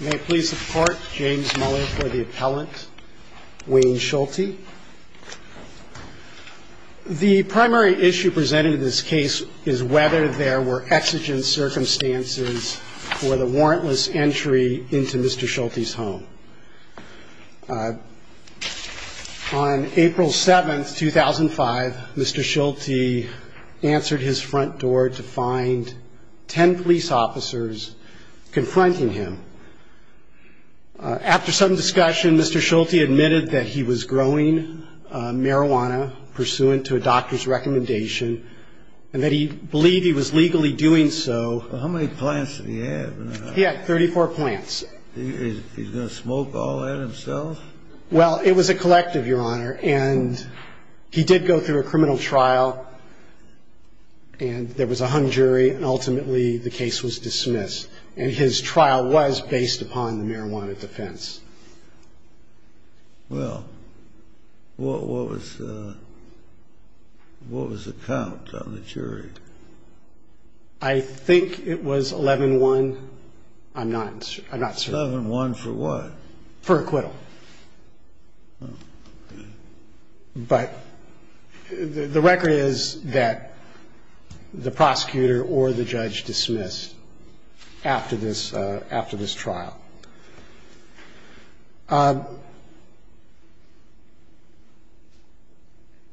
May I please support James Muller for the appellant, Wayne Schulte. The primary issue presented in this case is whether there were exigent circumstances for the warrantless entry into Mr. Schulte's home. On April 7, 2005, Mr. Schulte answered his front door to find ten police officers confronting him. After some discussion, Mr. Schulte admitted that he was growing marijuana pursuant to a doctor's recommendation and that he believed he was legally doing so. Mr. Schulte's defense was that he did not have marijuana in his home. He did not have marijuana in his home. I think it was 11-1. I'm not certain. 11-1 for what? For acquittal. But the record is that the prosecutor or the judge dismissed after this trial.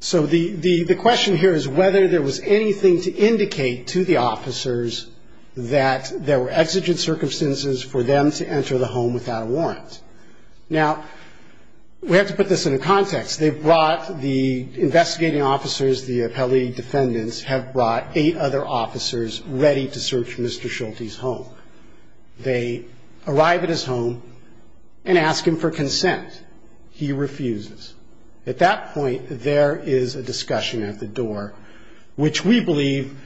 So the question here is whether there was anything to indicate to the officers that there were exigent circumstances for them to enter the home without a warrant. Now, we have to put this into context. They brought the investigating officers, the appellee defendants, have brought eight other officers ready to search Mr. Schulte's home. They arrive at his home and ask him for consent. He refuses. At that point, there is a discussion at the door, which we believe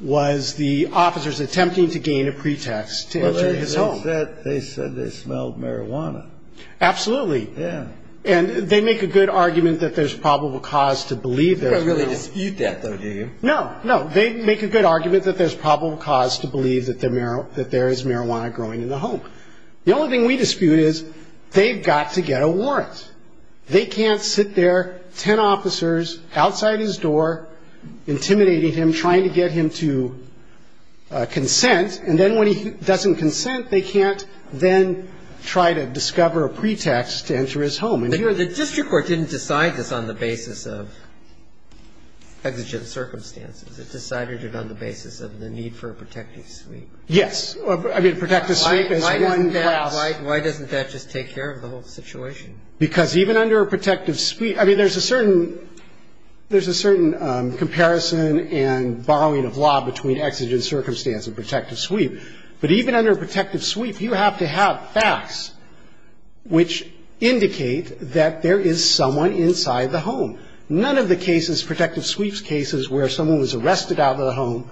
was the officers attempting to gain a pretext to enter his home. Well, they said they smelled marijuana. Absolutely. Yeah. And they make a good argument that there's probable cause to believe there's marijuana. They don't really dispute that, though, do you? No, no. They make a good argument that there's probable cause to believe that there is marijuana growing in the home. The only thing we dispute is they've got to get a warrant. They can't sit there, ten officers outside his door, intimidating him, trying to get him to consent. And then when he doesn't consent, they can't then try to discover a pretext to enter his home. The district court didn't decide this on the basis of exigent circumstances. It decided it on the basis of the need for a protective sweep. Yes. I mean, protective sweep is one class. Why doesn't that just take care of the whole situation? Because even under a protective sweep, I mean, there's a certain comparison and borrowing of law between exigent circumstance and protective sweep. But even under a protective sweep, you have to have facts which indicate that there is someone inside the home. None of the cases, protective sweeps cases, where someone was arrested out of the home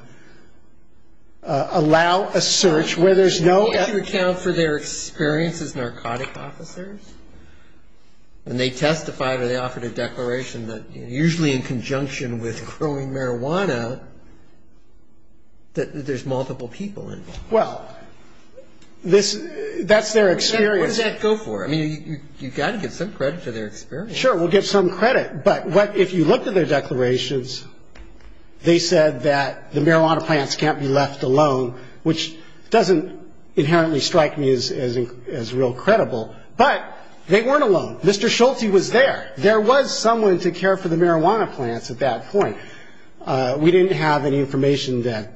allow a search where there's no evidence. Could you account for their experience as narcotic officers? When they testified or they offered a declaration that usually in conjunction with growing marijuana, that there's multiple people involved. Well, that's their experience. What does that go for? I mean, you've got to give some credit to their experience. Sure. We'll give some credit. But if you look at their declarations, they said that the marijuana plants can't be left alone, which doesn't inherently strike me as real credible. But they weren't alone. Mr. Schulte was there. There was someone to care for the marijuana plants at that point. We didn't have any information that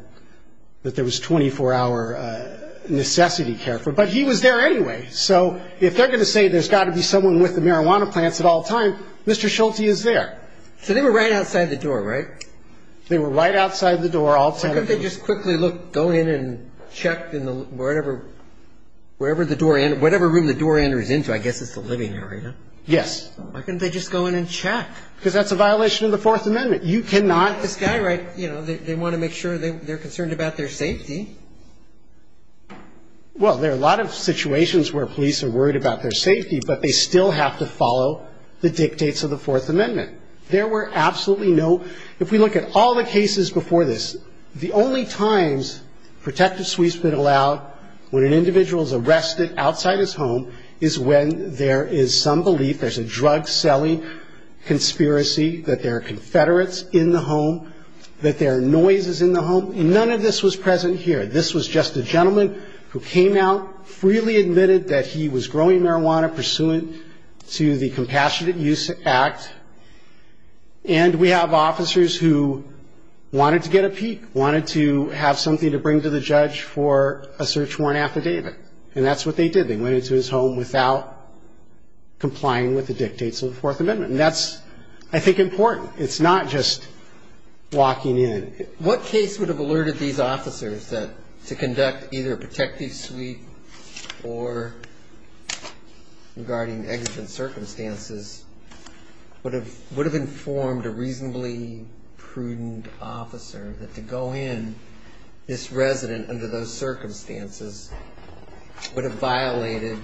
there was 24-hour necessity care for. But he was there anyway. So if they're going to say there's got to be someone with the marijuana plants at all times, Mr. Schulte is there. So they were right outside the door, right? They were right outside the door. Why couldn't they just quickly go in and check in whatever room the door enters into? I guess it's the living area. Yes. Why couldn't they just go in and check? Because that's a violation of the Fourth Amendment. You cannot. This guy, right, you know, they want to make sure they're concerned about their safety. Well, there are a lot of situations where police are worried about their safety, but they still have to follow the dictates of the Fourth Amendment. There were absolutely no ‑‑ if we look at all the cases before this, the only times protective sweep's been allowed when an individual is arrested outside his home is when there is some belief there's a drug selling conspiracy, that there are Confederates in the home, that there are noises in the home. And none of this was present here. This was just a gentleman who came out, freely admitted that he was growing marijuana pursuant to the Compassionate Use Act. And we have officers who wanted to get a peek, wanted to have something to bring to the judge for a search warrant affidavit. And that's what they did. They went into his home without complying with the dictates of the Fourth Amendment. And that's, I think, important. It's not just walking in. What case would have alerted these officers that to conduct either a protective sweep or regarding exigent circumstances would have informed a reasonably prudent officer that to go in this resident under those circumstances would have violated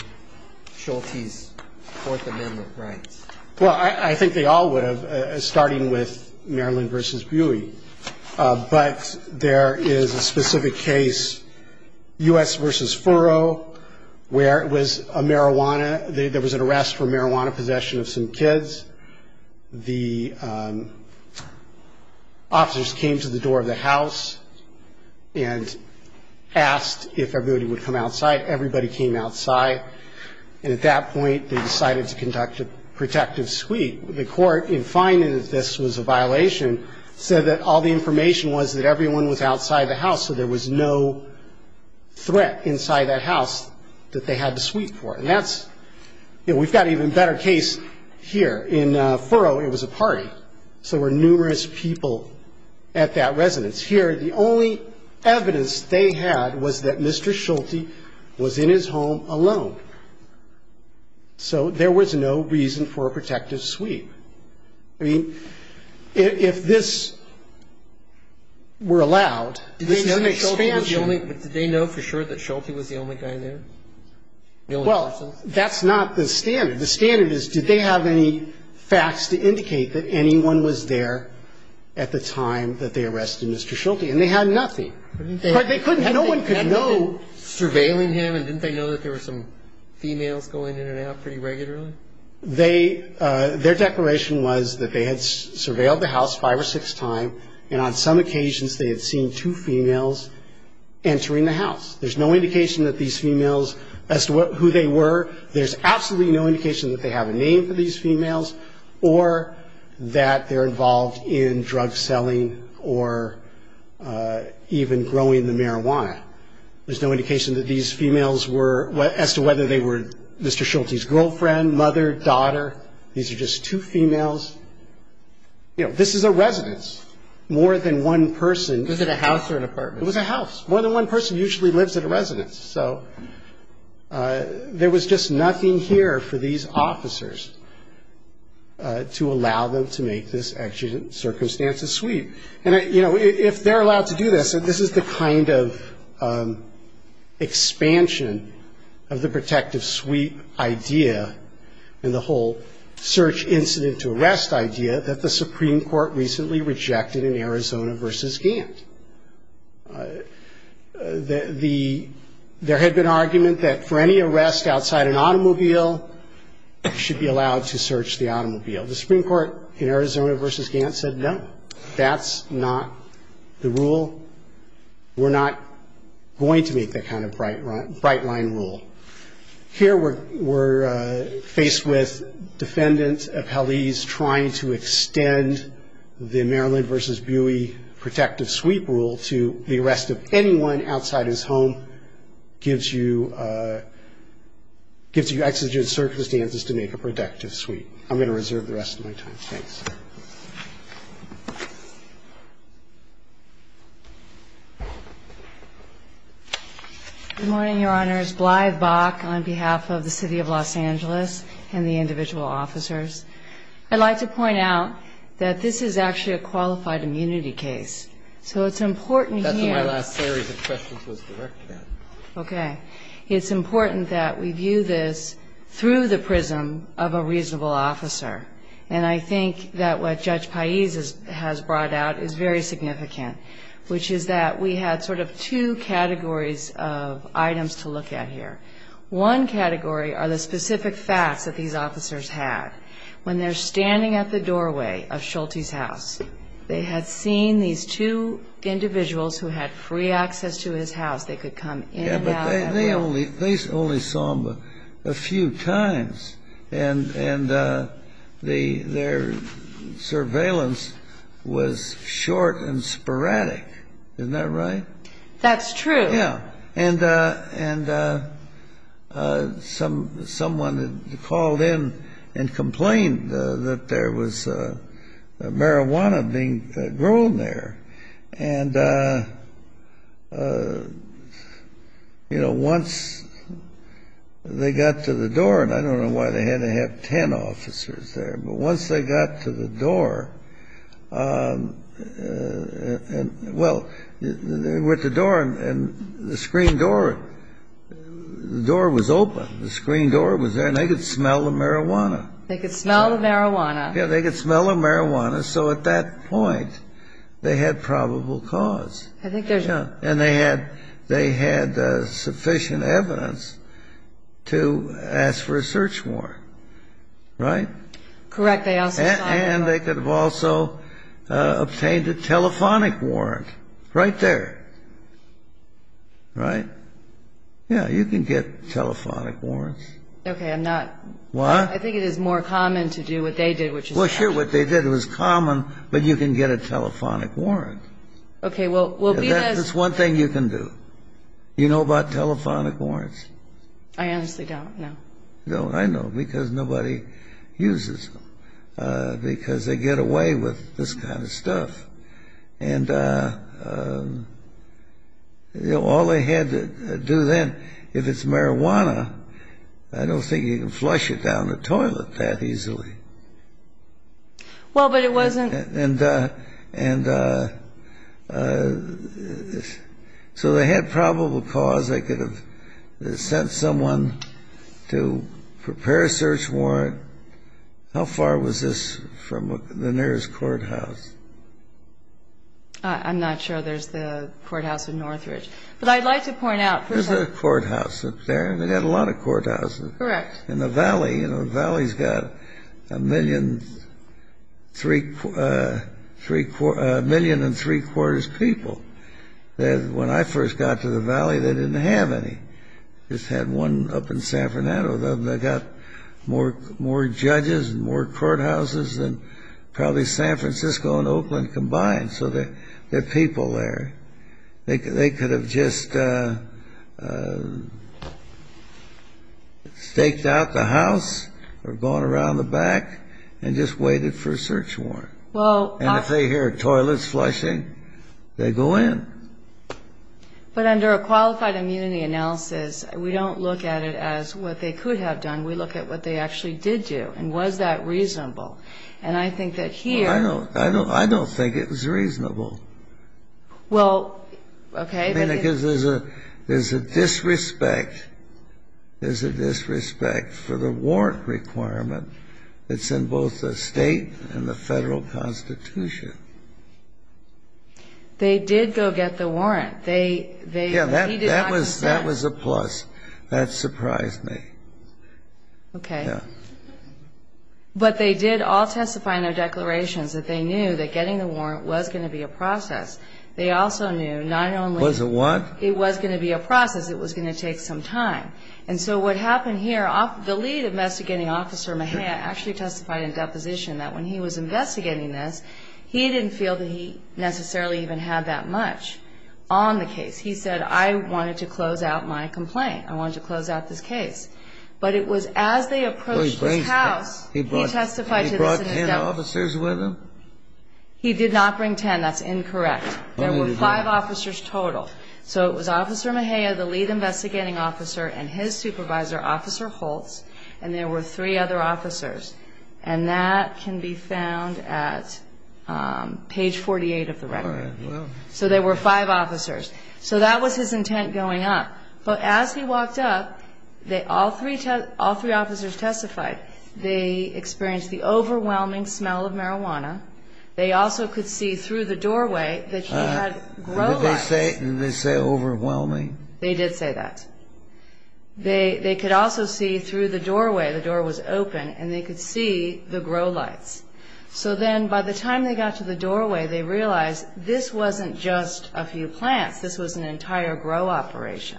Schulte's Fourth Amendment rights? Well, I think they all would have, starting with Maryland v. Buey. But there is a specific case, U.S. v. Furrow, where it was a marijuana ‑‑ there was an arrest for marijuana possession of some kids. The officers came to the door of the house and asked if everybody would come outside. Everybody came outside. And at that point, they decided to conduct a protective sweep. The court, in finding that this was a violation, said that all the information was that everyone was outside the house, so there was no threat inside that house that they had to sweep for. And that's ‑‑ you know, we've got an even better case here. In Furrow, it was a party, so there were numerous people at that residence. Here, the only evidence they had was that Mr. Schulte was in his home alone. So there was no reason for a protective sweep. I mean, if this were allowed, this is an expansion. Did they know for sure that Schulte was the only guy there? Well, that's not the standard. The standard is did they have any facts to indicate that anyone was there at the time that they arrested Mr. Schulte? And they had nothing. They couldn't ‑‑ no one could know. Had they been surveilling him, and didn't they know that there were some females going in and out pretty regularly? They ‑‑ their declaration was that they had surveilled the house five or six times, and on some occasions, they had seen two females entering the house. There's no indication that these females, as to who they were, there's absolutely no indication that they have a name for these females or that they're involved in drug selling or even growing the marijuana. There's no indication that these females were, as to whether they were Mr. Schulte's girlfriend, mother, daughter. These are just two females. You know, this is a residence. More than one person. Was it a house or an apartment? It was a house. More than one person usually lives at a residence. So there was just nothing here for these officers to allow them to make this exigent circumstances sweep. And, you know, if they're allowed to do this, this is the kind of expansion of the protective sweep idea and the whole search incident to arrest idea that the Supreme Court recently rejected in Arizona v. Gantt. There had been argument that for any arrest outside an automobile, you should be allowed to search the automobile. The Supreme Court in Arizona v. Gantt said no. That's not the rule. We're not going to make that kind of bright line rule. Here we're faced with defendants, appellees, trying to extend the Maryland v. Buey protective sweep rule to the arrest of anyone outside his home, gives you exigent circumstances to make a protective sweep. I'm going to reserve the rest of my time. Thanks. Good morning, Your Honors. Glyve Bach on behalf of the City of Los Angeles and the individual officers. I'd like to point out that this is actually a qualified immunity case. So it's important here. That's my last theory. The question was directed at me. Okay. It's important that we view this through the prism of a reasonable officer. And I think that's what we're going to do. I think that what Judge Pais has brought out is very significant, which is that we had sort of two categories of items to look at here. One category are the specific facts that these officers had. When they're standing at the doorway of Schulte's house, they had seen these two individuals who had free access to his house. They could come in and out at will. Yeah, but they only saw him a few times. And their surveillance was short and sporadic. Isn't that right? That's true. Yeah. And someone had called in and complained that there was marijuana being grown there. And, you know, once they got to the door, and I don't know why they had to have ten officers there, but once they got to the door, well, with the door and the screen door, the door was open, the screen door was there, and they could smell the marijuana. They could smell the marijuana. Yeah, they could smell the marijuana. So at that point, they had probable cause. And they had sufficient evidence to ask for a search warrant, right? Correct. And they could have also obtained a telephonic warrant right there, right? Yeah, you can get telephonic warrants. Okay, I'm not. What? I think it is more common to do what they did. Well, sure, what they did was common, but you can get a telephonic warrant. Okay, well, because – That's one thing you can do. You know about telephonic warrants? I honestly don't, no. No, I know, because nobody uses them, because they get away with this kind of stuff. And, you know, all they had to do then, if it's marijuana, I don't think you can flush it down the toilet that easily. Well, but it wasn't – And so they had probable cause. They could have sent someone to prepare a search warrant. How far was this from the nearest courthouse? I'm not sure there's the courthouse in Northridge. But I'd like to point out – There's a courthouse up there, and they've got a lot of courthouses. Correct. In the Valley, you know, the Valley's got a million and three-quarters people. When I first got to the Valley, they didn't have any. They just had one up in San Fernando. They've got more judges and more courthouses than probably San Francisco and Oakland combined. So there are people there. They could have just staked out the house or gone around the back and just waited for a search warrant. And if they hear toilets flushing, they go in. But under a qualified immunity analysis, we don't look at it as what they could have done. We look at what they actually did do, and was that reasonable. And I think that here – I don't think it was reasonable. Well, okay. I mean, because there's a disrespect. There's a disrespect for the warrant requirement that's in both the state and the federal constitution. Okay. But they did all testify in their declarations that they knew that getting the warrant was going to be a process. They also knew not only – Was it what? It was going to be a process. It was going to take some time. And so what happened here, the lead investigating officer, Mejia, he didn't have a warrant. He didn't have a warrant. He didn't feel that he necessarily even had that much on the case. He said, I wanted to close out my complaint. I wanted to close out this case. But it was as they approached his house, he testified to this in his statement. He brought 10 officers with him? He did not bring 10. That's incorrect. There were five officers total. So it was Officer Mejia, the lead investigating officer, and his supervisor, Officer Holtz, and there were three other officers. And that can be found at page 48 of the record. All right. So there were five officers. So that was his intent going up. But as he walked up, all three officers testified they experienced the overwhelming smell of marijuana. They also could see through the doorway that he had grog eyes. Did they say overwhelming? They did say that. They could also see through the doorway. The door was open, and they could see the grog eyes. So then by the time they got to the doorway, they realized this wasn't just a few plants. This was an entire grog operation.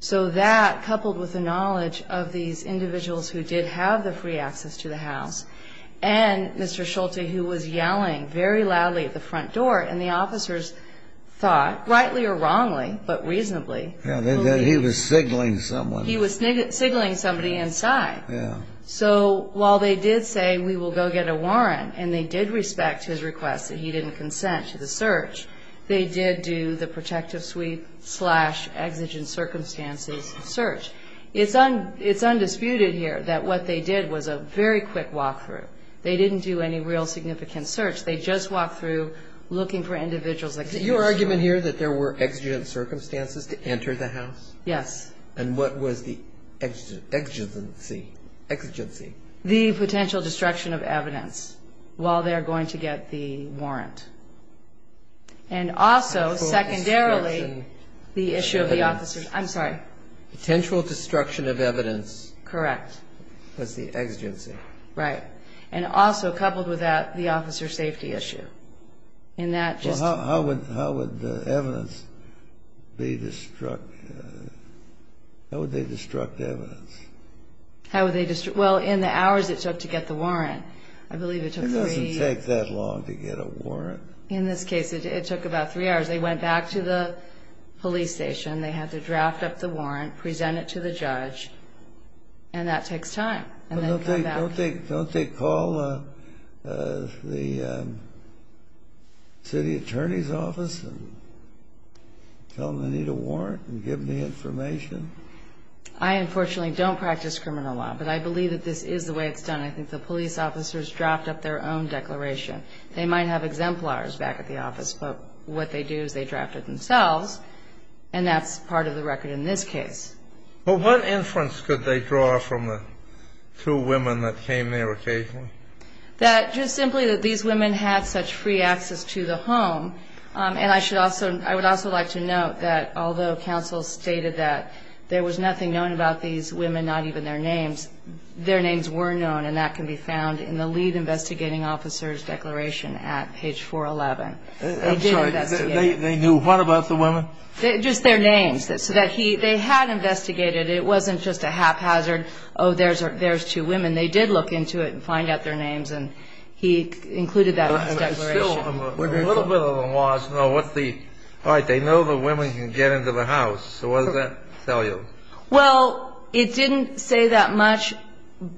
So that, coupled with the knowledge of these individuals who did have the free access to the house and Mr. Schulte, who was yelling very loudly at the front door, and the officers thought, rightly or wrongly, but reasonably. That he was signaling someone. He was signaling somebody inside. So while they did say, we will go get a warrant, and they did respect his request that he didn't consent to the search, they did do the protective suite slash exigent circumstances search. It's undisputed here that what they did was a very quick walkthrough. They didn't do any real significant search. They just walked through looking for individuals that could do the search. Yes. And what was the exigency? The potential destruction of evidence while they're going to get the warrant. And also, secondarily, the issue of the officers. I'm sorry. Potential destruction of evidence. Correct. Was the exigency. Right. And also, coupled with that, the officer safety issue. How would the evidence be destructed? How would they destruct evidence? Well, in the hours it took to get the warrant. It doesn't take that long to get a warrant. In this case, it took about three hours. They went back to the police station. They had to draft up the warrant, present it to the judge, and that takes time. Don't they call the city attorney's office and tell them they need a warrant and give them the information? I, unfortunately, don't practice criminal law, but I believe that this is the way it's done. I think the police officers draft up their own declaration. They might have exemplars back at the office, but what they do is they draft it themselves, and that's part of the record in this case. Well, what inference could they draw from the two women that came there occasionally? That just simply that these women had such free access to the home, and I would also like to note that although counsel stated that there was nothing known about these women, not even their names, their names were known, and that can be found in the lead investigating officer's declaration at page 411. I'm sorry, they knew what about the women? Just their names. So they had investigated. It wasn't just a haphazard, oh, there's two women. They did look into it and find out their names, and he included that in his declaration. A little bit of them was. All right, they know the women can get into the house, so what does that tell you? Well, it didn't say that much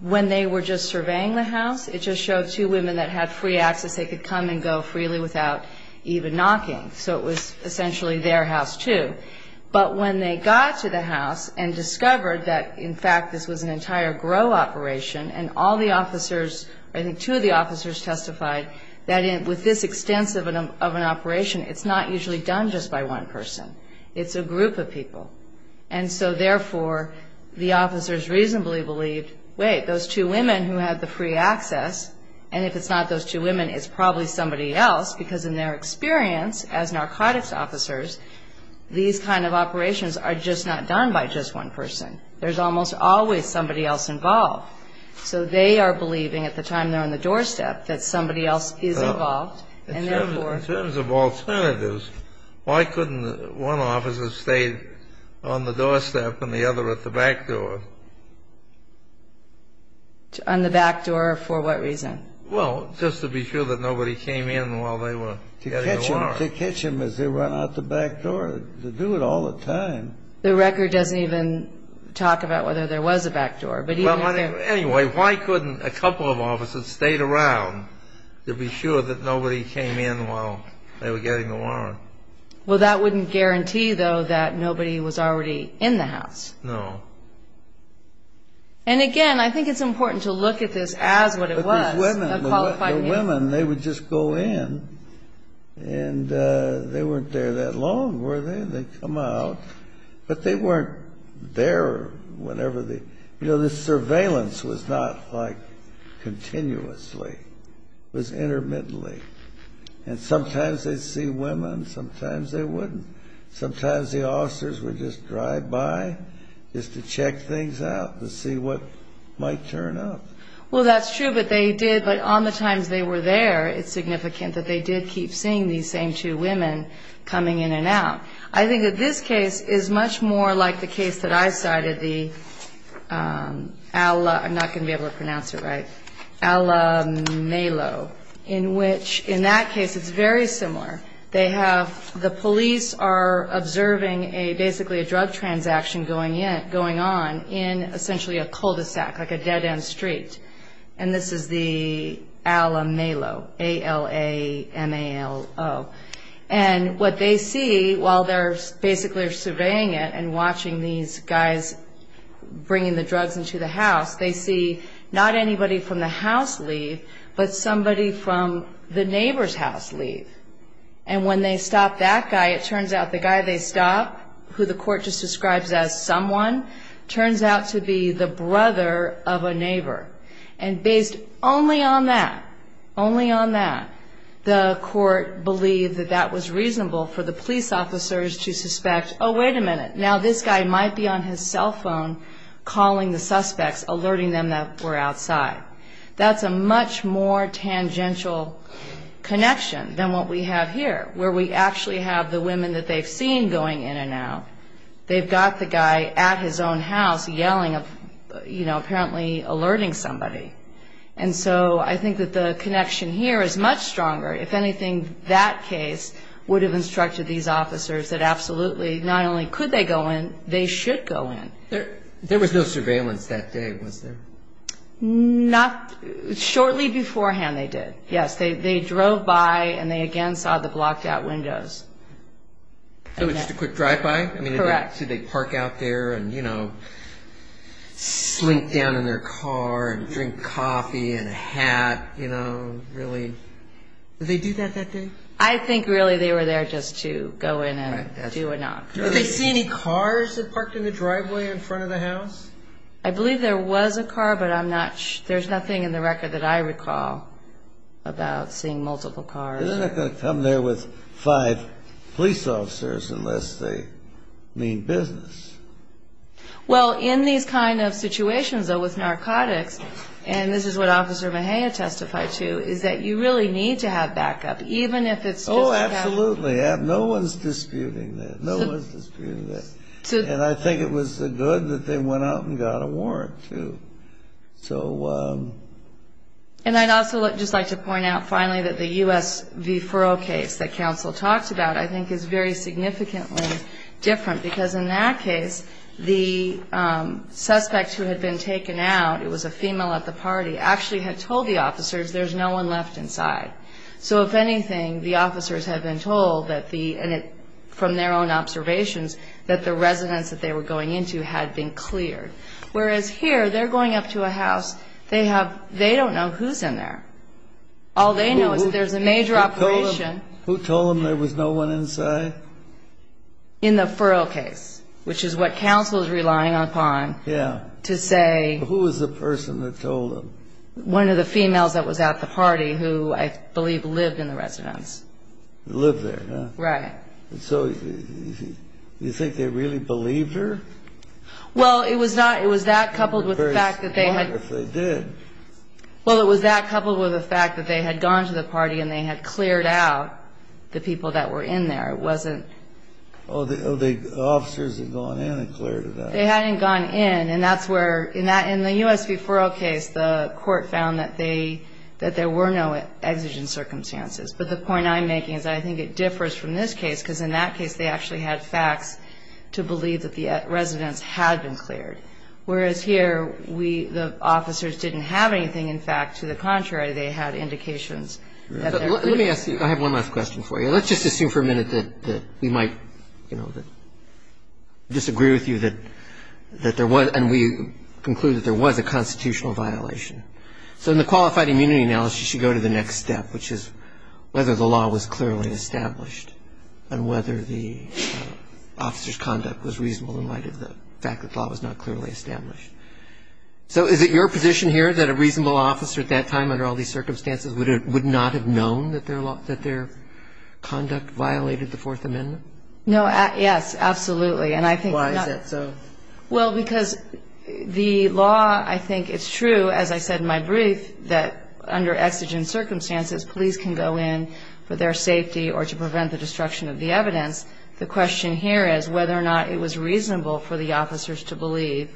when they were just surveying the house. It just showed two women that had free access. They could come and go freely without even knocking, so it was essentially their house, too. But when they got to the house and discovered that, in fact, this was an entire GROW operation and all the officers, I think two of the officers testified that with this extensive of an operation, it's not usually done just by one person. It's a group of people. And so, therefore, the officers reasonably believed, wait, those two women who had the free access, and if it's not those two women, it's probably somebody else because, in their experience as narcotics officers, these kind of operations are just not done by just one person. There's almost always somebody else involved. So they are believing, at the time they're on the doorstep, that somebody else is involved. In terms of alternatives, why couldn't one officer stay on the doorstep and the other at the back door? On the back door for what reason? Well, just to be sure that nobody came in while they were getting a warrant. To catch them as they run out the back door. They do it all the time. The record doesn't even talk about whether there was a back door. Anyway, why couldn't a couple of officers stayed around to be sure that nobody came in while they were getting a warrant? Well, that wouldn't guarantee, though, that nobody was already in the house. No. And, again, I think it's important to look at this as what it was. The women, they would just go in, and they weren't there that long, were they? They'd come out, but they weren't there whenever they... You know, the surveillance was not, like, continuously. It was intermittently. And sometimes they'd see women, sometimes they wouldn't. Sometimes the officers would just drive by just to check things out, to see what might turn up. Well, that's true, but they did, but on the times they were there, it's significant that they did keep seeing these same two women coming in and out. I think that this case is much more like the case that I cited, the Ala... I'm not going to be able to pronounce it right. Alamelo. In which, in that case, it's very similar. The police are observing, basically, a drug transaction going on in, essentially, a cul-de-sac, like a dead-end street. And this is the Alamelo, A-L-A-M-A-L-O. And what they see while they're basically surveying it and watching these guys bringing the drugs into the house, they see not anybody from the house leave, but somebody from the neighbor's house leave. And when they stop that guy, it turns out the guy they stop, who the court just describes as someone, turns out to be the brother of a neighbor. And based only on that, only on that, the court believed that that was reasonable for the police officers to suspect, oh, wait a minute, now this guy might be on his cell phone calling the suspects, alerting them that we're outside. That's a much more tangential connection than what we have here, where we actually have the women that they've seen going in and out. They've got the guy at his own house yelling, apparently alerting somebody. And so I think that the connection here is much stronger. If anything, that case would have instructed these officers that absolutely not only could they go in, they should go in. There was no surveillance that day, was there? Not shortly beforehand they did. Yes, they drove by, and they again saw the blocked-out windows. So just a quick drive-by? Correct. Did they park out there and, you know, slink down in their car and drink coffee and a hat, you know, really? Did they do that that day? I think really they were there just to go in and do a knock. Did they see any cars that parked in the driveway in front of the house? I believe there was a car, but I'm not sure. There's nothing in the record that I recall about seeing multiple cars. They're not going to come there with five police officers unless they mean business. Well, in these kind of situations, though, with narcotics, and this is what Officer Mejia testified to, is that you really need to have backup, even if it's just a backup. Oh, absolutely. No one's disputing that. No one's disputing that. And I think it was good that they went out and got a warrant, too. And I'd also just like to point out, finally, that the U.S. v. Furrow case that counsel talked about I think is very significantly different because in that case the suspect who had been taken out, it was a female at the party, actually had told the officers there's no one left inside. So if anything, the officers had been told, from their own observations, that the residence that they were going into had been cleared, whereas here they're going up to a house. They don't know who's in there. All they know is that there's a major operation. Who told them there was no one inside? In the Furrow case, which is what counsel is relying upon to say. Who was the person that told them? One of the females that was at the party who I believe lived in the residence. Lived there, huh? Right. So you think they really believed her? Well, it was that coupled with the fact that they had gone to the party and they had cleared out the people that were in there. Oh, the officers had gone in and cleared it out. They hadn't gone in, and that's where, in the U.S. v. Furrow case, the court found that they, that there were no exigent circumstances. But the point I'm making is I think it differs from this case, because in that case they actually had facts to believe that the residence had been cleared. Whereas here, we, the officers didn't have anything, in fact. To the contrary, they had indications that there were. Let me ask you, I have one last question for you. Let's just assume for a minute that we might disagree with you that there was, and we conclude that there was a constitutional violation. So in the qualified immunity analysis, you should go to the next step, which is whether the law was clearly established and whether the officer's conduct was reasonable in light of the fact that the law was not clearly established. So is it your position here that a reasonable officer at that time, under all these circumstances, would not have known that their conduct violated the Fourth Amendment? No. Yes, absolutely. And I think not. Why is that so? Well, because the law, I think it's true, as I said in my brief, that under exigent circumstances police can go in for their safety or to prevent the destruction of the evidence. The question here is whether or not it was reasonable for the officers to believe,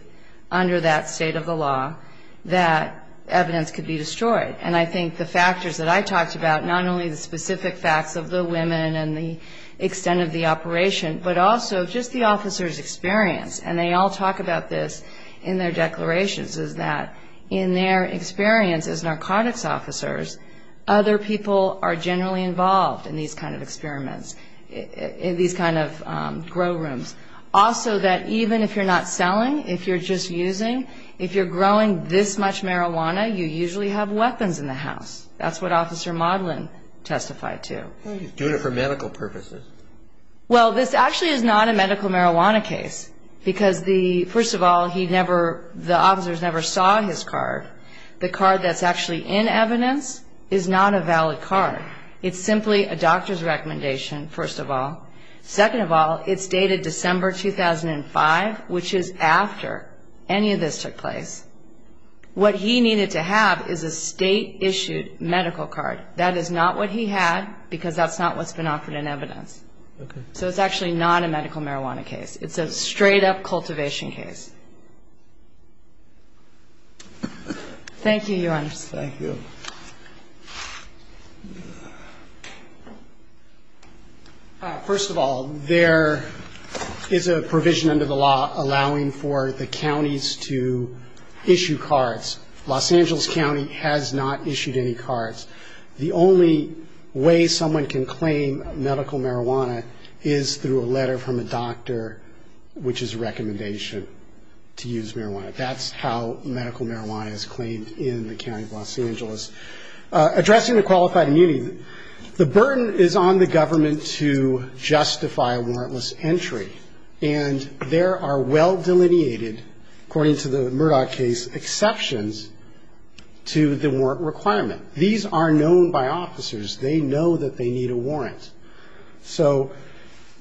under that state of the law, that evidence could be destroyed. And I think the factors that I talked about, not only the specific facts of the women and the extent of the operation, but also just the officers' experience, and they all talk about this in their declarations, is that in their experience as narcotics officers, other people are generally involved in these kind of experiments, in these kind of grow rooms. Also, that even if you're not selling, if you're just using, if you're growing this much marijuana, you usually have weapons in the house. That's what Officer Modlin testified to. He's doing it for medical purposes. Well, this actually is not a medical marijuana case because, first of all, the officers never saw his card. The card that's actually in evidence is not a valid card. It's simply a doctor's recommendation, first of all. Second of all, it's dated December 2005, which is after any of this took place. What he needed to have is a state-issued medical card. That is not what he had because that's not what's been offered in evidence. Okay. So it's actually not a medical marijuana case. It's a straight-up cultivation case. Thank you, Your Honor. Thank you. Thank you. First of all, there is a provision under the law allowing for the counties to issue cards. Los Angeles County has not issued any cards. The only way someone can claim medical marijuana is through a letter from a doctor, which is a recommendation to use marijuana. That's how medical marijuana is claimed in the county of Los Angeles. Addressing the qualified immunity, the burden is on the government to justify a warrantless entry, and there are well-delineated, according to the Murdoch case, exceptions to the warrant requirement. These are known by officers. They know that they need a warrant. So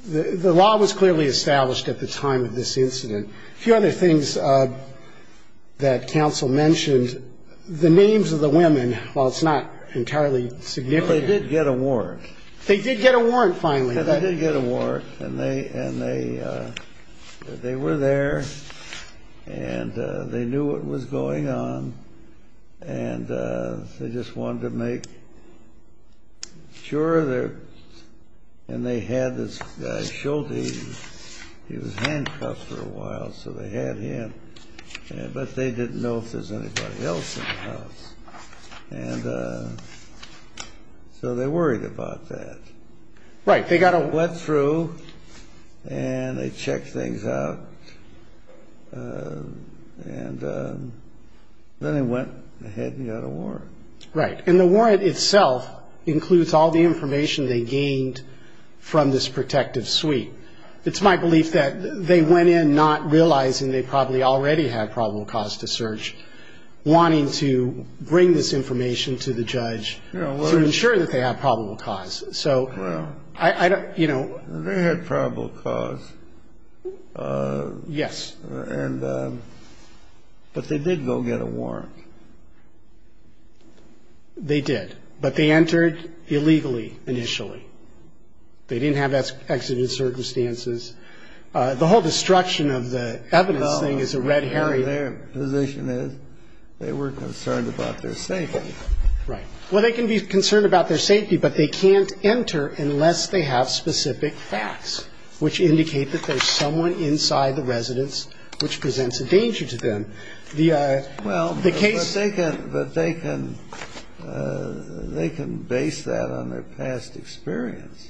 the law was clearly established at the time of this incident. A few other things that counsel mentioned. The names of the women, while it's not entirely significant. They did get a warrant. They did get a warrant, finally. They did get a warrant, and they were there, and they knew what was going on, and they just wanted to make sure. And they had this guy, Schulte. He was handcuffed for a while, so they had him, but they didn't know if there was anybody else in the house. And so they worried about that. Right. They got a warrant. Went through, and they checked things out. And then they went ahead and got a warrant. Right. And the warrant itself includes all the information they gained from this protective suite. It's my belief that they went in not realizing they probably already had probable cause to search, wanting to bring this information to the judge to ensure that they had probable cause. So I don't, you know. They had probable cause. Yes. And, but they did go get a warrant. They did. But they entered illegally initially. They didn't have exited circumstances. The whole destruction of the evidence thing is a red herring. Their position is they were concerned about their safety. Right. Well, they can be concerned about their safety, but they can't enter unless they have specific facts, which indicate that there's someone inside the residence which presents a danger to them. The case. Well, but they can base that on their past experience.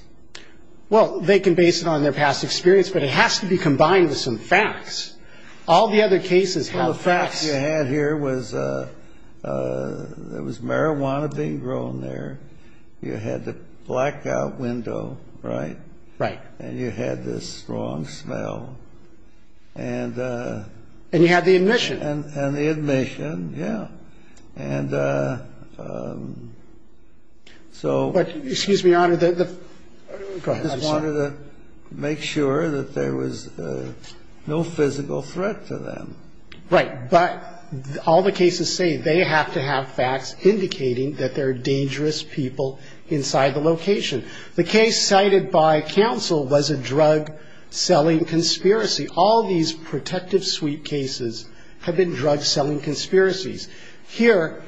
Well, they can base it on their past experience, but it has to be combined with some facts. All the other cases have facts. Well, the facts you had here was there was marijuana being grown there. You had the blackout window, right? Right. And you had this strong smell. And. And you had the admission. And the admission, yeah. And so. Excuse me, Your Honor. Go ahead. I just wanted to make sure that there was no physical threat to them. Right. But all the cases say they have to have facts indicating that there are dangerous people inside the location. The case cited by counsel was a drug-selling conspiracy. All these protective suite cases have been drug-selling conspiracies. Here,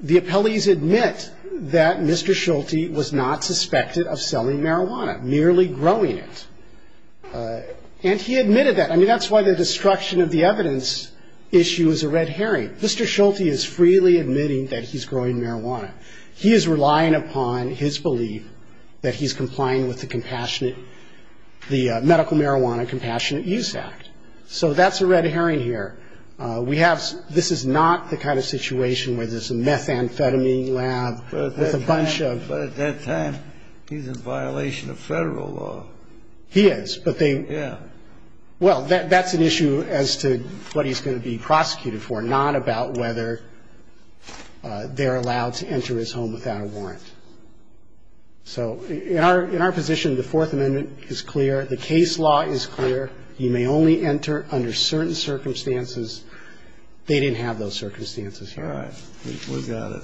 the appellees admit that Mr. Schulte was not suspected of selling marijuana, merely growing it. And he admitted that. I mean, that's why the destruction of the evidence issue is a red herring. Mr. Schulte is freely admitting that he's growing marijuana. He is relying upon his belief that he's complying with the compassionate the Medical Marijuana Compassionate Use Act. So that's a red herring here. We have this is not the kind of situation where there's a methamphetamine lab with a bunch of. But at that time, he's in violation of Federal law. He is, but they. Yeah. Well, that's an issue as to what he's going to be prosecuted for, not about whether they're allowed to enter his home without a warrant. So in our position, the Fourth Amendment is clear. The case law is clear. You may only enter under certain circumstances. They didn't have those circumstances. All right. We've got it.